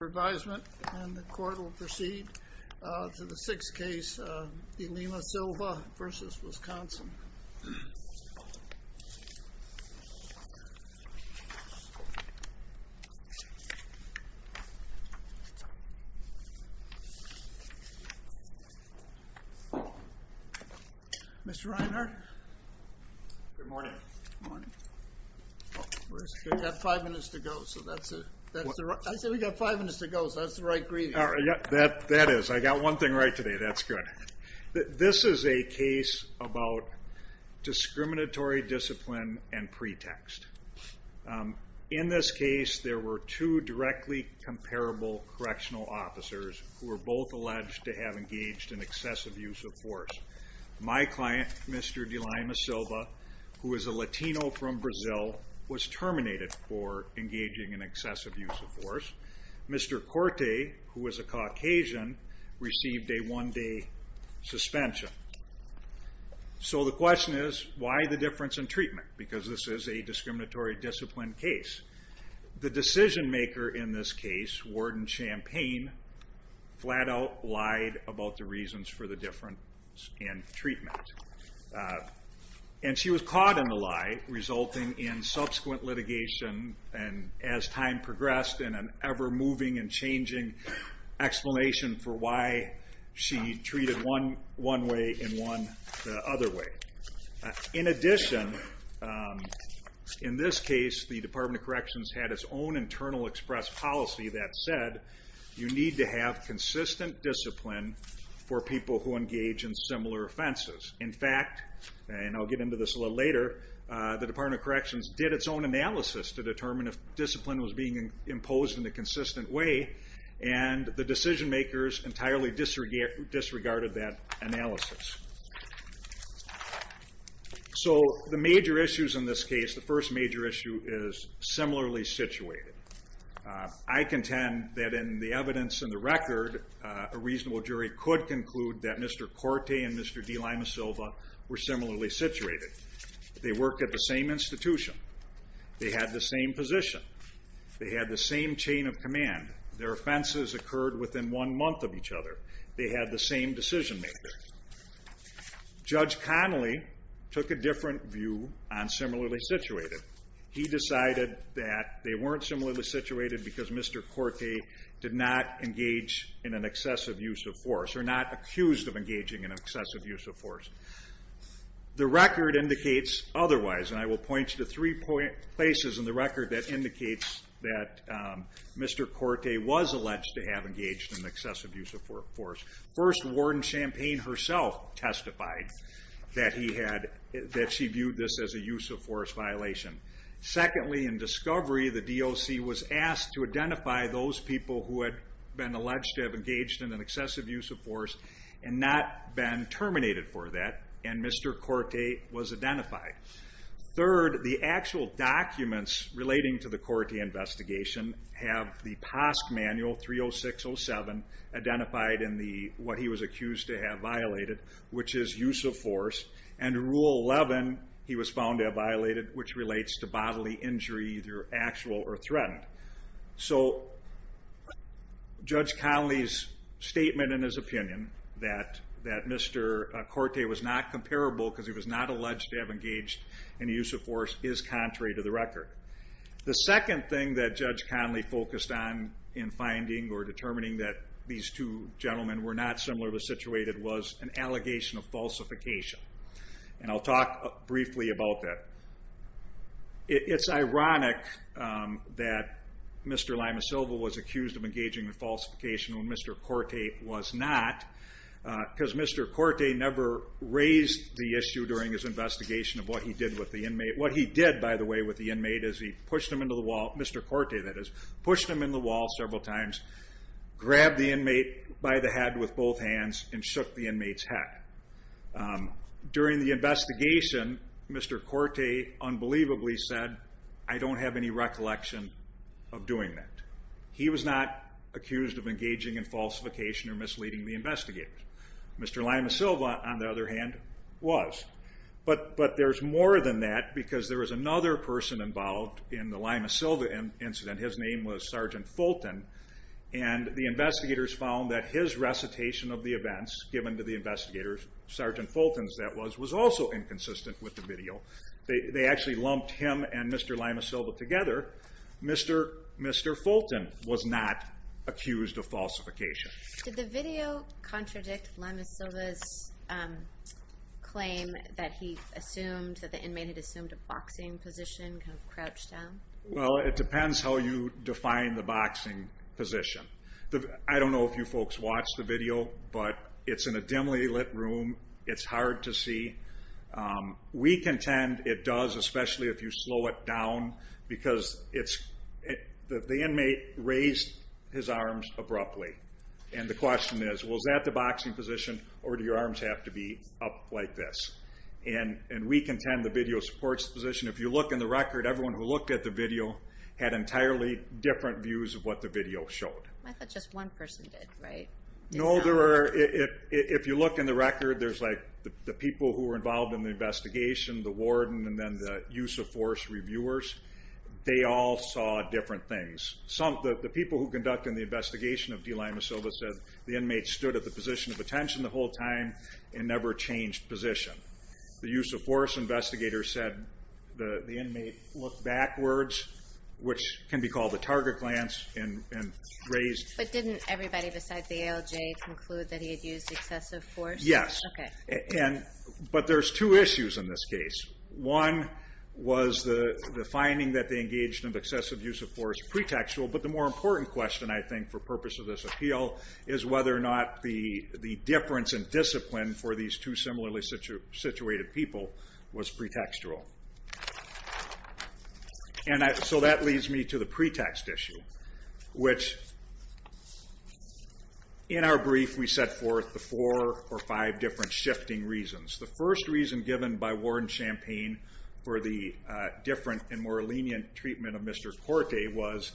of Revision, and the court will proceed to the sixth case, de Lima Silva v. Wisconsin. Mr. Reinhardt? Good morning. Good morning. We've got five minutes to go, so that's it. I said we've got five minutes to go, so that's the right greeting. That is. I got one thing right today, that's good. This is a case about discriminatory discipline and pretext. In this case, there were two directly comparable correctional officers who were both alleged to have engaged in excessive use of force. My client, Mr. de Lima Silva, who is a Latino from Brazil, was terminated for engaging in force. Mr. Corte, who is a Caucasian, received a one-day suspension. So the question is, why the difference in treatment? Because this is a discriminatory discipline case. The decision-maker in this case, Warden Champagne, flat-out lied about the reasons for the difference in treatment. And she was caught in the lie, resulting in subsequent litigation, and as time progressed in an ever-moving and changing explanation for why she treated one way and one other way. In addition, in this case, the Department of Corrections had its own internal express policy that said, you need to have consistent discipline for people who engage in similar offenses. In fact, and I'll get into this a little later, the Department of Corrections did its own proposed in a consistent way, and the decision-makers entirely disregarded that analysis. So the major issues in this case, the first major issue is similarly situated. I contend that in the evidence in the record, a reasonable jury could conclude that Mr. Corte and Mr. de Lima Silva were similarly situated. They worked at the same institution. They had the same position. They had the same chain of command. Their offenses occurred within one month of each other. They had the same decision-makers. Judge Connolly took a different view on similarly situated. He decided that they weren't similarly situated because Mr. Corte did not engage in an excessive use of force, or not accused of engaging in excessive use of force. The record indicates otherwise, and I will point you to three places in the record that indicates that Mr. Corte was alleged to have engaged in excessive use of force. First, Warden Champagne herself testified that she viewed this as a use of force violation. Secondly, in discovery, the DOC was asked to identify those people who had been alleged to have engaged in an excessive use of force and not been terminated for that, and Mr. Corte was identified. Third, the actual documents relating to the Corte investigation have the POSC manual 30607 identified in what he was accused to have violated, which is use of force, and Rule 11, he was found to have violated, which relates to bodily injury, either actual or threatened. So Judge Connolly's statement in his opinion that Mr. Corte was not comparable because he was not alleged to have engaged in the use of force is contrary to the record. The second thing that Judge Connolly focused on in finding or determining that these two gentlemen were not similarly situated was an allegation of falsification, and I'll talk briefly about that. It's ironic that Mr. Lima-Silva was accused of engaging in falsification when Mr. Corte was not, because Mr. Corte never raised the issue during his investigation of what he did with the inmate. What he did, by the way, with the inmate is he pushed him into the wall, Mr. Corte that is, pushed him into the wall several times, grabbed the inmate by the head with both hands, and shook the inmate's head. During the investigation, Mr. Corte unbelievably said, I don't have any recollection of doing that. He was not accused of engaging in falsification or misleading the investigators. Mr. Lima-Silva, on the other hand, was. But there's more than that because there was another person involved in the Lima-Silva incident, his name was Sergeant Fulton, and the investigators found that his recitation of the events given to the investigators, Sergeant Fulton's that was, was also inconsistent with the video. They actually lumped him and Mr. Lima-Silva together. Mr. Fulton was not accused of falsification. Did the video contradict Lima-Silva's claim that he assumed, that the inmate had assumed a boxing position, kind of crouched down? Well, it depends how you define the boxing position. I don't know if you folks watched the video, but it's in a dimly lit room. It's hard to see. We contend it does, especially if you slow it down, because it's, the inmate raised his arms abruptly. And the question is, was that the boxing position, or do your arms have to be up like this? And we contend the video supports the position. If you look in the record, everyone who looked at the video had entirely different views of what the video showed. I thought just one person did, right? No, there were, if you look in the record, there's like the people who were involved in the investigation, the warden, and then the use of force reviewers, they all saw different things. Some, the people who conducted the investigation of D. Lima-Silva said the inmate stood at the position of attention the whole time and never changed position. The use of force investigator said the inmate looked backwards, which can be called the But didn't everybody besides the ALJ conclude that he had used excessive force? Yes. Okay. But there's two issues in this case. One was the finding that they engaged in excessive use of force pre-textual, but the more important question I think for purpose of this appeal is whether or not the difference in discipline for these two similarly situated people was pre-textual. And so that leads me to the pre-text issue, which in our brief we set forth the four or five different shifting reasons. The first reason given by Warden Champagne for the different and more lenient treatment of Mr. Corte was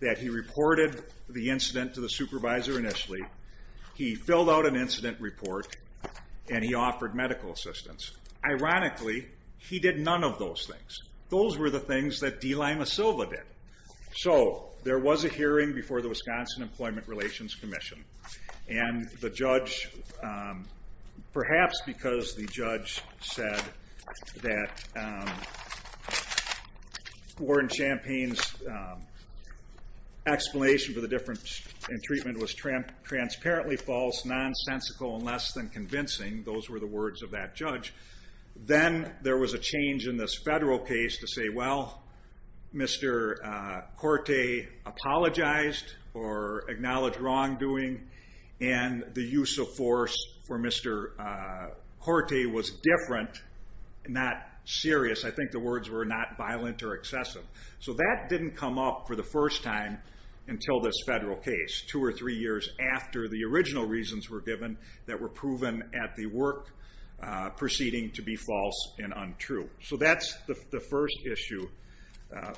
that he reported the incident to the supervisor initially, he filled out an incident report, and he offered medical assistance. Ironically, he did none of those things. Those were the things that D. Lima-Silva did. So there was a hearing before the Wisconsin Employment Relations Commission, and the judge, perhaps because the judge said that Warden Champagne's explanation for the difference in treatment was transparently false, nonsensical, and less than convincing, those were the words of that judge. Then there was a change in this federal case to say, well, Mr. Corte apologized or acknowledged wrongdoing, and the use of force for Mr. Corte was different, not serious, I think the words were not violent or excessive. So that didn't come up for the first time until this federal case, two or three years after the original reasons were given that were proven at the work proceeding to be false and untrue. So that's the first issue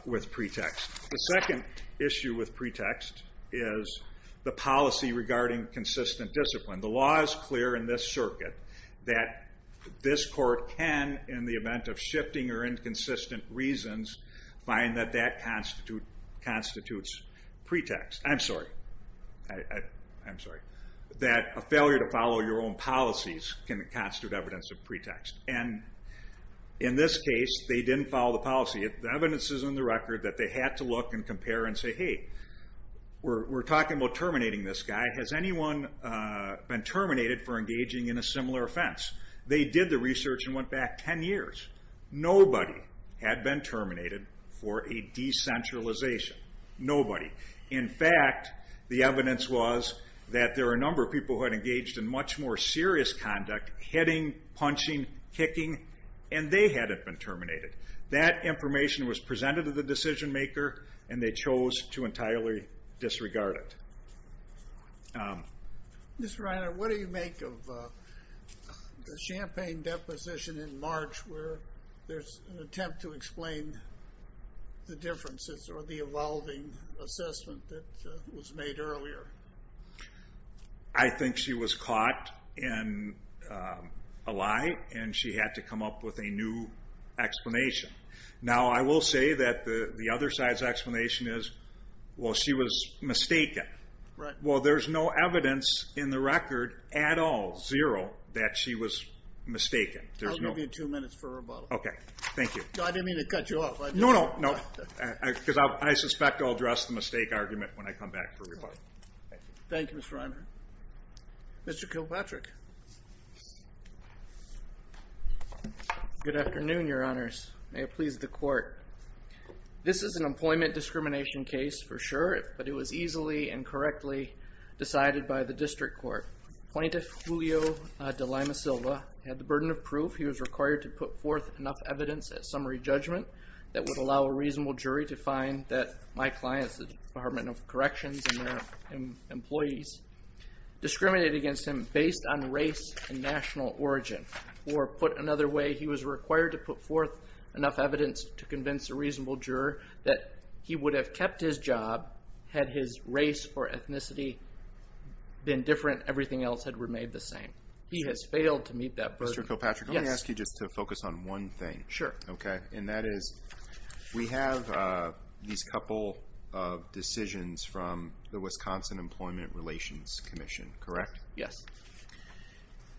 with pretext. The second issue with pretext is the policy regarding consistent discipline. The law is clear in this circuit that this court can, in the event of shifting or inconsistent reasons, find that that constitutes pretext. I'm sorry, that a failure to follow your own policies can constitute evidence of pretext. In this case, they didn't follow the policy. The evidence is in the record that they had to look and compare and say, hey, we're talking about terminating this guy. Has anyone been terminated for engaging in a similar offense? They did the research and went back 10 years. Nobody had been terminated for a decentralization. Nobody. In fact, the evidence was that there were a number of people who had engaged in much more serious conduct, hitting, punching, kicking, and they hadn't been terminated. That information was presented to the decision maker and they chose to entirely disregard it. Mr. Reiner, what do you make of the Champaign deposition in March where there's an attempt to explain the differences or the evolving assessment that was made earlier? I think she was caught in a lie and she had to come up with a new explanation. Now I will say that the other side's explanation is, well, she was mistaken. Well, there's no evidence in the record at all, zero, that she was mistaken. I'll give you two minutes for rebuttal. Okay, thank you. I didn't mean to cut you off. No, no, no. Because I suspect I'll address the mistake argument when I come back for rebuttal. Thank you, Mr. Reiner. Mr. Kilpatrick. Good afternoon, your honors. May it please the court. This is an employment discrimination case for sure, but it was easily and correctly decided by the district court. Plaintiff Julio de Lima Silva had the burden of proof. He was required to put forth enough evidence at summary judgment that would allow a reasonable jury to find that my client, the Department of Corrections and their employees, discriminated against him based on race and national origin. Or put another way, he was required to put forth enough evidence to convince a reasonable juror that he would have kept his job had his race or ethnicity been different, everything else had remained the same. He has failed to meet that burden. Mr. Kilpatrick, let me ask you just to focus on one thing. Sure. Okay. And that is, we have these couple of decisions from the Wisconsin Employment Relations Commission, correct? Yes.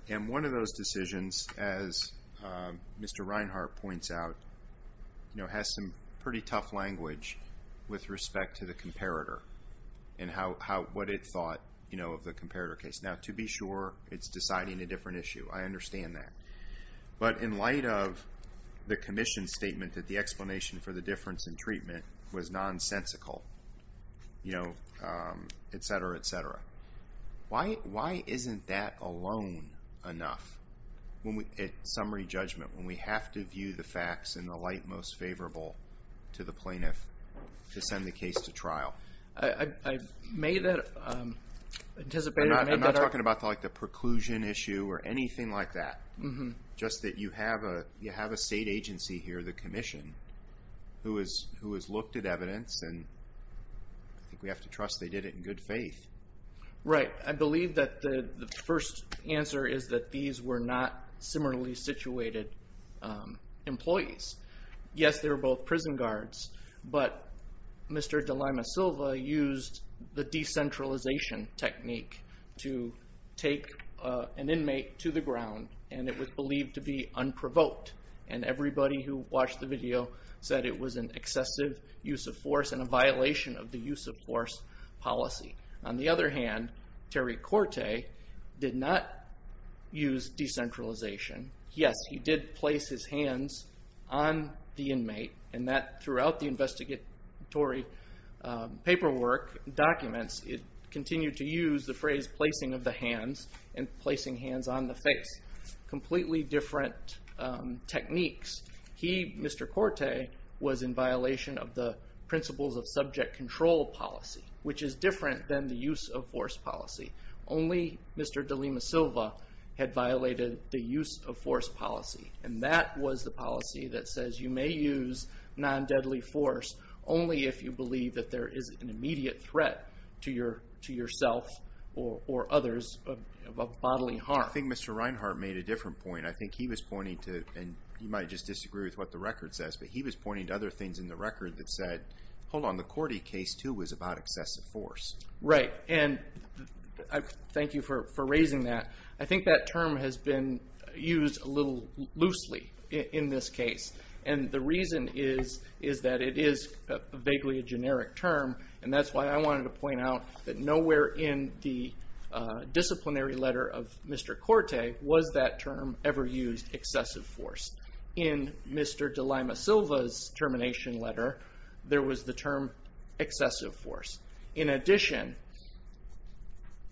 And one of those decisions, as Mr. Reinhart points out, has some pretty tough language with respect to the comparator. And what it thought of the comparator case. Now, to be sure, it's deciding a different issue. I understand that. But in light of the commission's statement that the explanation for the difference in treatment was nonsensical, et cetera, et cetera. Why isn't that alone enough at summary judgment, when we have to view the facts in the light most favorable to the plaintiff to send the case to trial? I may have anticipated that. I'm not talking about like the preclusion issue or anything like that. Just that you have a state agency here, the commission, who has looked at evidence and I think we have to trust they did it in good faith. Right. I believe that the first answer is that these were not similarly situated employees. Yes, they were both prison guards. But Mr. De Lima Silva used the decentralization technique to take an inmate to the ground and it was believed to be unprovoked. And everybody who watched the video said it was an excessive use of force and a violation of the use of force policy. On the other hand, Terry Corte did not use decentralization. Yes, he did place his hands on the inmate and that throughout the investigatory paperwork documents, it continued to use the phrase placing of the hands and placing hands on the face. Completely different techniques. He, Mr. Corte, was in violation of the principles of subject control policy, which is different than the use of force policy. Only Mr. De Lima Silva had violated the use of force policy. And that was the policy that says you may use non-deadly force only if you believe that there is an immediate threat to yourself or others of bodily harm. I think Mr. Reinhart made a different point. I think he was pointing to, and you might just disagree with what the record says, but he was pointing to other things in the record that said, hold on, the Corte case too was about excessive force. Right, and thank you for raising that. I think that term has been used a little loosely in this case. And the reason is that it is vaguely a generic term. And that's why I wanted to point out that nowhere in the disciplinary letter of Mr. Corte was that term ever used, excessive force. In Mr. De Lima Silva's termination letter, there was the term excessive force. In addition,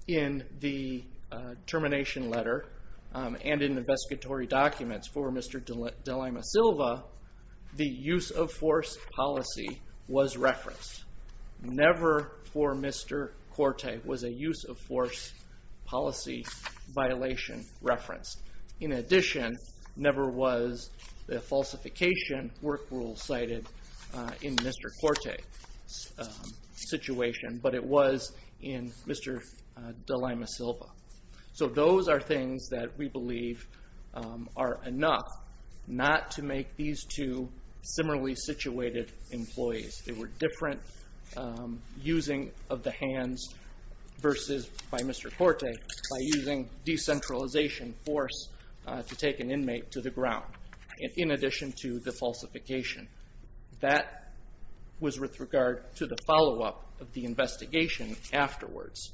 in the termination letter and in the investigatory documents for Mr. De Lima Silva, the use of force policy was referenced. Never for Mr. Corte was a use of force policy violation referenced. In addition, never was the falsification work rule cited in Mr. Corte's situation, but it was in Mr. De Lima Silva. So those are things that we believe are enough not to make these two similarly situated employees. They were different using of the hands versus by Mr. Corte by using decentralization force to take an inmate to the ground, in addition to the falsification. That was with regard to the follow-up of the investigation afterwards.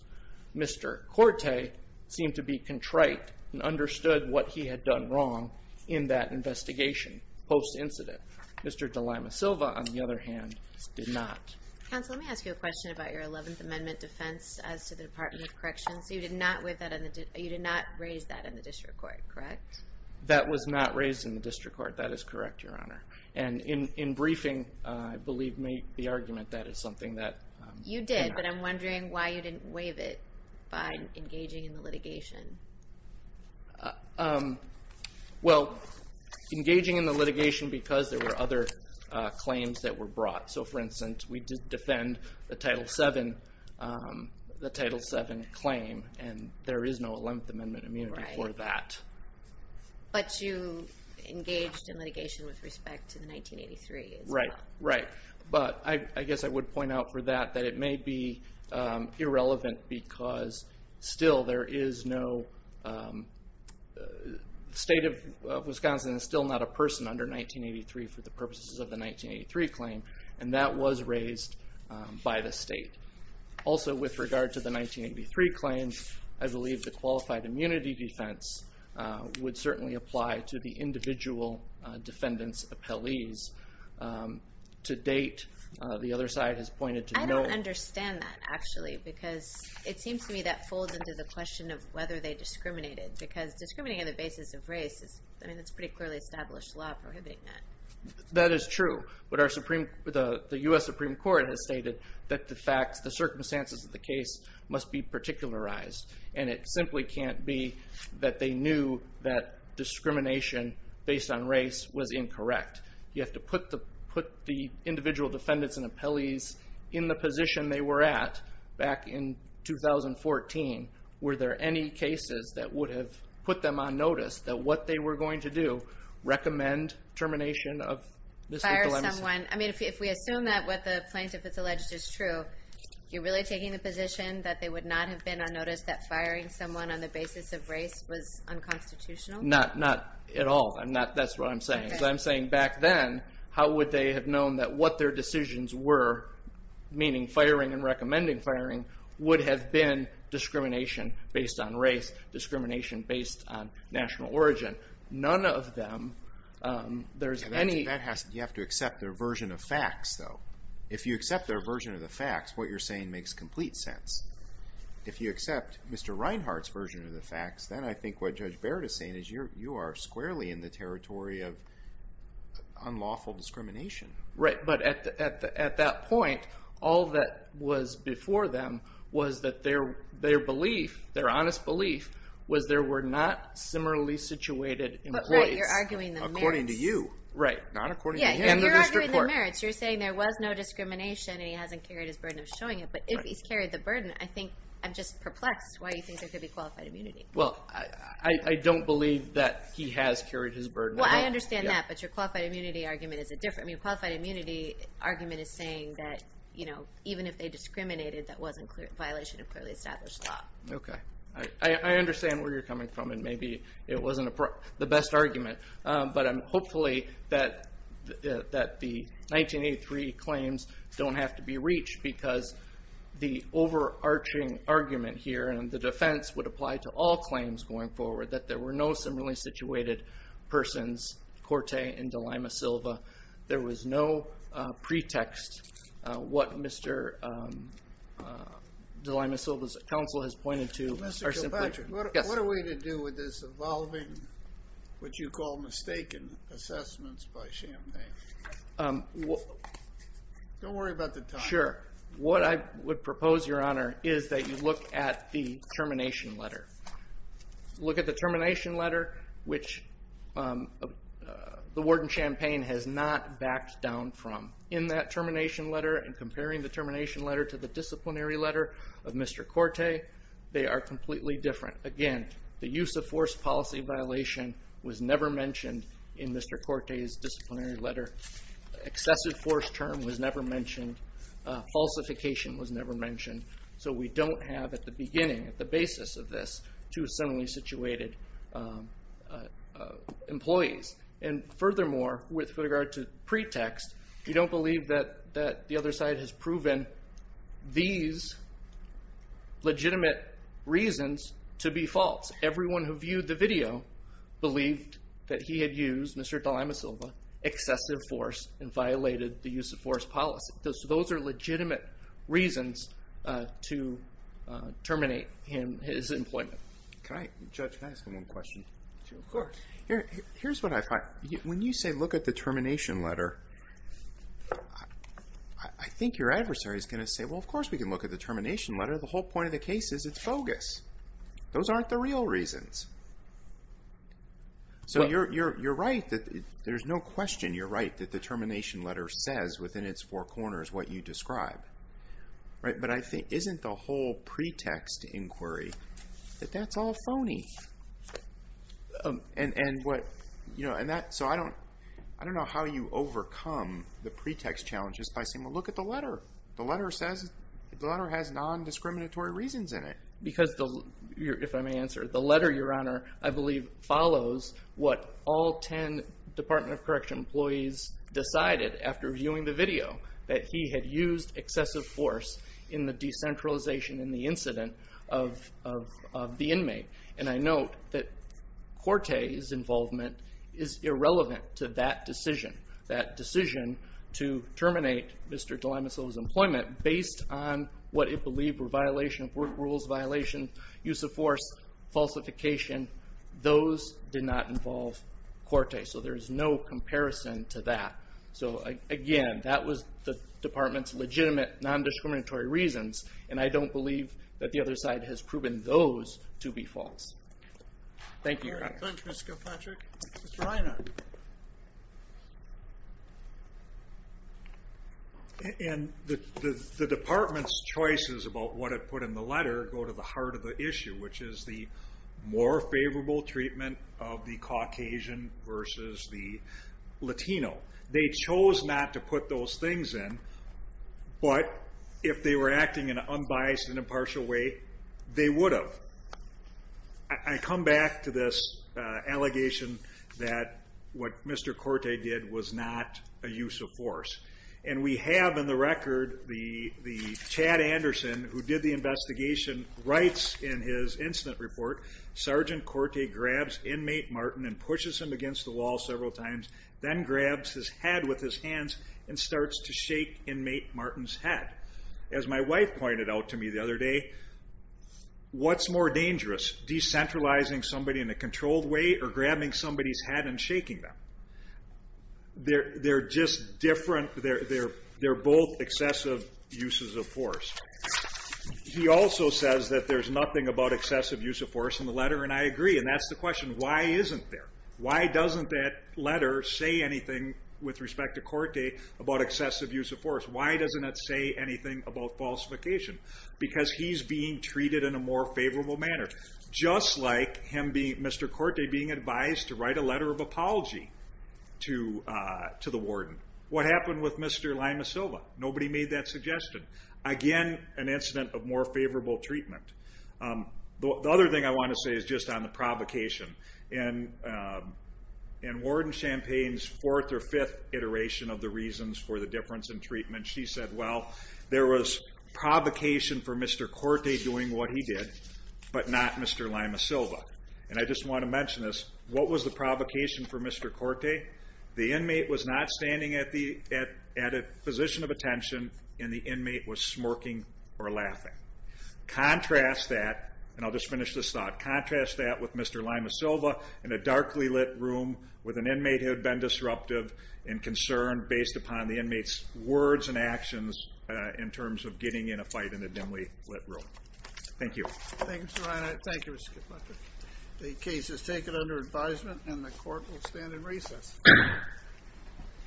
Mr. Corte seemed to be contrite and understood what he had done wrong in that investigation post-incident. Mr. De Lima Silva, on the other hand, did not. Counsel, let me ask you a question about your 11th Amendment defense as to the Department of Corrections. You did not raise that in the district court, correct? That was not raised in the district court. That is correct, Your Honor. And in briefing, I believe, made the argument that it's something that... You did, but I'm wondering why you didn't waive it by engaging in the litigation. Well, engaging in the litigation because there were other claims that were brought. So, for instance, we did defend the Title VII claim, and there is no 11th Amendment immunity for that. But you engaged in litigation with respect to the 1983 as well. Right, right. But I guess I would point out for that that it may be irrelevant because still there is no... State of Wisconsin is still not a person under 1983 for the purposes of the 1983 claim. And that was raised by the state. Also, with regard to the 1983 claims, I believe the qualified immunity defense would certainly apply to the individual defendant's appellees. To date, the other side has pointed to no... I don't understand that, actually, because it seems to me that folds into the question of whether they discriminated because discriminating on the basis of race is... I mean, it's a pretty clearly established law prohibiting that. That is true, but the U.S. Supreme Court has stated that the facts, the circumstances of the case must be particularized. And it simply can't be that they knew that discrimination based on race was incorrect. You have to put the individual defendants and appellees in the position they were at back in 2014. Were there any cases that would have put them on notice that what they were going to do, recommend termination of... Fire someone. I mean, if we assume that what the plaintiff has alleged is true, you're really taking the position that they would not have been on notice that firing someone on the basis of race was unconstitutional? Not at all. That's what I'm saying. Because I'm saying back then, how would they have known that what their decisions were, meaning firing and recommending firing, would have been discrimination based on race, discrimination based on national origin. None of them, there's any... You have to accept their version of facts, though. If you accept their version of the facts, what you're saying makes complete sense. If you accept Mr. Reinhart's version of the facts, then I think what Judge Barrett is saying is you are squarely in the territory of unlawful discrimination. Right, but at that point, all that was before them was that their belief, their honest belief, was there were not similarly situated employees. But right, you're arguing the merits. According to you, right, not according to him. Yeah, you're arguing the merits. You're saying there was no discrimination and he hasn't carried his burden of showing it. But if he's carried the burden, I think I'm just perplexed why you think there could be qualified immunity. Well, I don't believe that he has carried his burden. Well, I understand that, but your qualified immunity argument is a different... Your qualified immunity argument is saying that even if they discriminated, that wasn't a violation of clearly established law. Okay, I understand where you're coming from and maybe it wasn't the best argument. But hopefully that the 1983 claims don't have to be reached because the overarching argument here and the defense would apply to all claims going forward that there were no similarly situated persons, Corte and DeLima Silva. There was no pretext what Mr. DeLima Silva's counsel has pointed to. Mr. Kilpatrick, what are we to do with this evolving, what you call mistaken assessments by Chamdane? Don't worry about the time. Sure. What I would propose, your honor, is that you look at the termination letter. Look at the termination letter, which the warden Chamdane has not backed down from. In that termination letter and comparing the termination letter to the disciplinary letter of Mr. Corte, they are completely different. Again, the use of force policy violation was never mentioned in Mr. Corte's disciplinary letter. Excessive force term was never mentioned. Falsification was never mentioned. So we don't have at the beginning, at the basis of this, two similarly situated employees. And furthermore, with regard to pretext, we don't believe that the other side has proven these legitimate reasons to be false. Everyone who viewed the video believed that he had used, Mr. DeLima Silva, excessive force and violated the use of force policy. So those are legitimate reasons to terminate his employment. Can I, Judge, can I ask him one question? Of course. Here's what I find. When you say look at the termination letter, I think your adversary is going to say, well, of course we can look at the termination letter. The whole point of the case is it's bogus. Those aren't the real reasons. So you're right that there's no question. You're right that the termination letter says within its four corners what you describe, right? But I think isn't the whole pretext inquiry that that's all phony? And what, you know, and that, so I don't, I don't know how you overcome the pretext challenges by saying, well, look at the letter. The letter says, the letter has non-discriminatory reasons in it. Because the, if I may answer, the letter, Your Honor, I believe follows what all ten Department of Correction employees decided after viewing the video, that he had used excessive force in the decentralization in the incident of the inmate. And I note that Corte's involvement is irrelevant to that decision. That decision to terminate Mr. De Limasolo's employment, based on what it believed were violation of work rules, violation, use of force, falsification, those did not involve Corte. So there's no comparison to that. So again, that was the department's legitimate non-discriminatory reasons. And I don't believe that the other side has proven those to be false. Thank you, Your Honor. Thank you, Mr. Kilpatrick. Mr. Reinhart. And the, the, the department's choices about what it put in the letter go to the heart of the issue, which is the more favorable treatment of the Caucasian versus the Latino. They chose not to put those things in. But, if they were acting in an unbiased and impartial way, they would have. I, I come back to this allegation that what Mr. Corte did was not a use of force. And we have in the record the, the Chad Anderson, who did the investigation, writes in his incident report, Sergeant Corte grabs inmate Martin and pushes him against the wall several times. Then grabs his head with his hands and starts to shake inmate Martin's head. As my wife pointed out to me the other day, what's more dangerous, decentralizing somebody in a controlled way or grabbing somebody's head and shaking them? They're, they're just different, they're, they're, they're both excessive uses of force. He also says that there's nothing about excessive use of force in the letter. And I agree. And that's the question. Why isn't there? Why doesn't that letter say anything with respect to Corte about excessive use of force? Why doesn't it say anything about falsification? Because he's being treated in a more favorable manner. Just like him being, Mr. Corte being advised to write a letter of apology to to the warden. What happened with Mr. Lima Silva? Nobody made that suggestion. Again, an incident of more favorable treatment. The other thing I want to say is just on the provocation. In, in Warden Champagne's fourth or fifth iteration of the reasons for the difference in treatment, she said, well, there was provocation for Mr. Corte doing what he did, but not Mr. Lima Silva. And I just want to mention this. What was the provocation for Mr. Corte? The inmate was not standing at the, at, at a position of attention, and the inmate was smirking or laughing. Contrast that, and I'll just finish this thought, contrast that with Mr. Lima Silva in a darkly lit room with an inmate who had been disruptive and concerned based upon the inmate's words and actions in terms of getting in a fight in a dimly lit room. Thank you. Thanks, Your Honor. Thank you, Mr. Caputo. The case is taken under advisement and the court will stand in recess.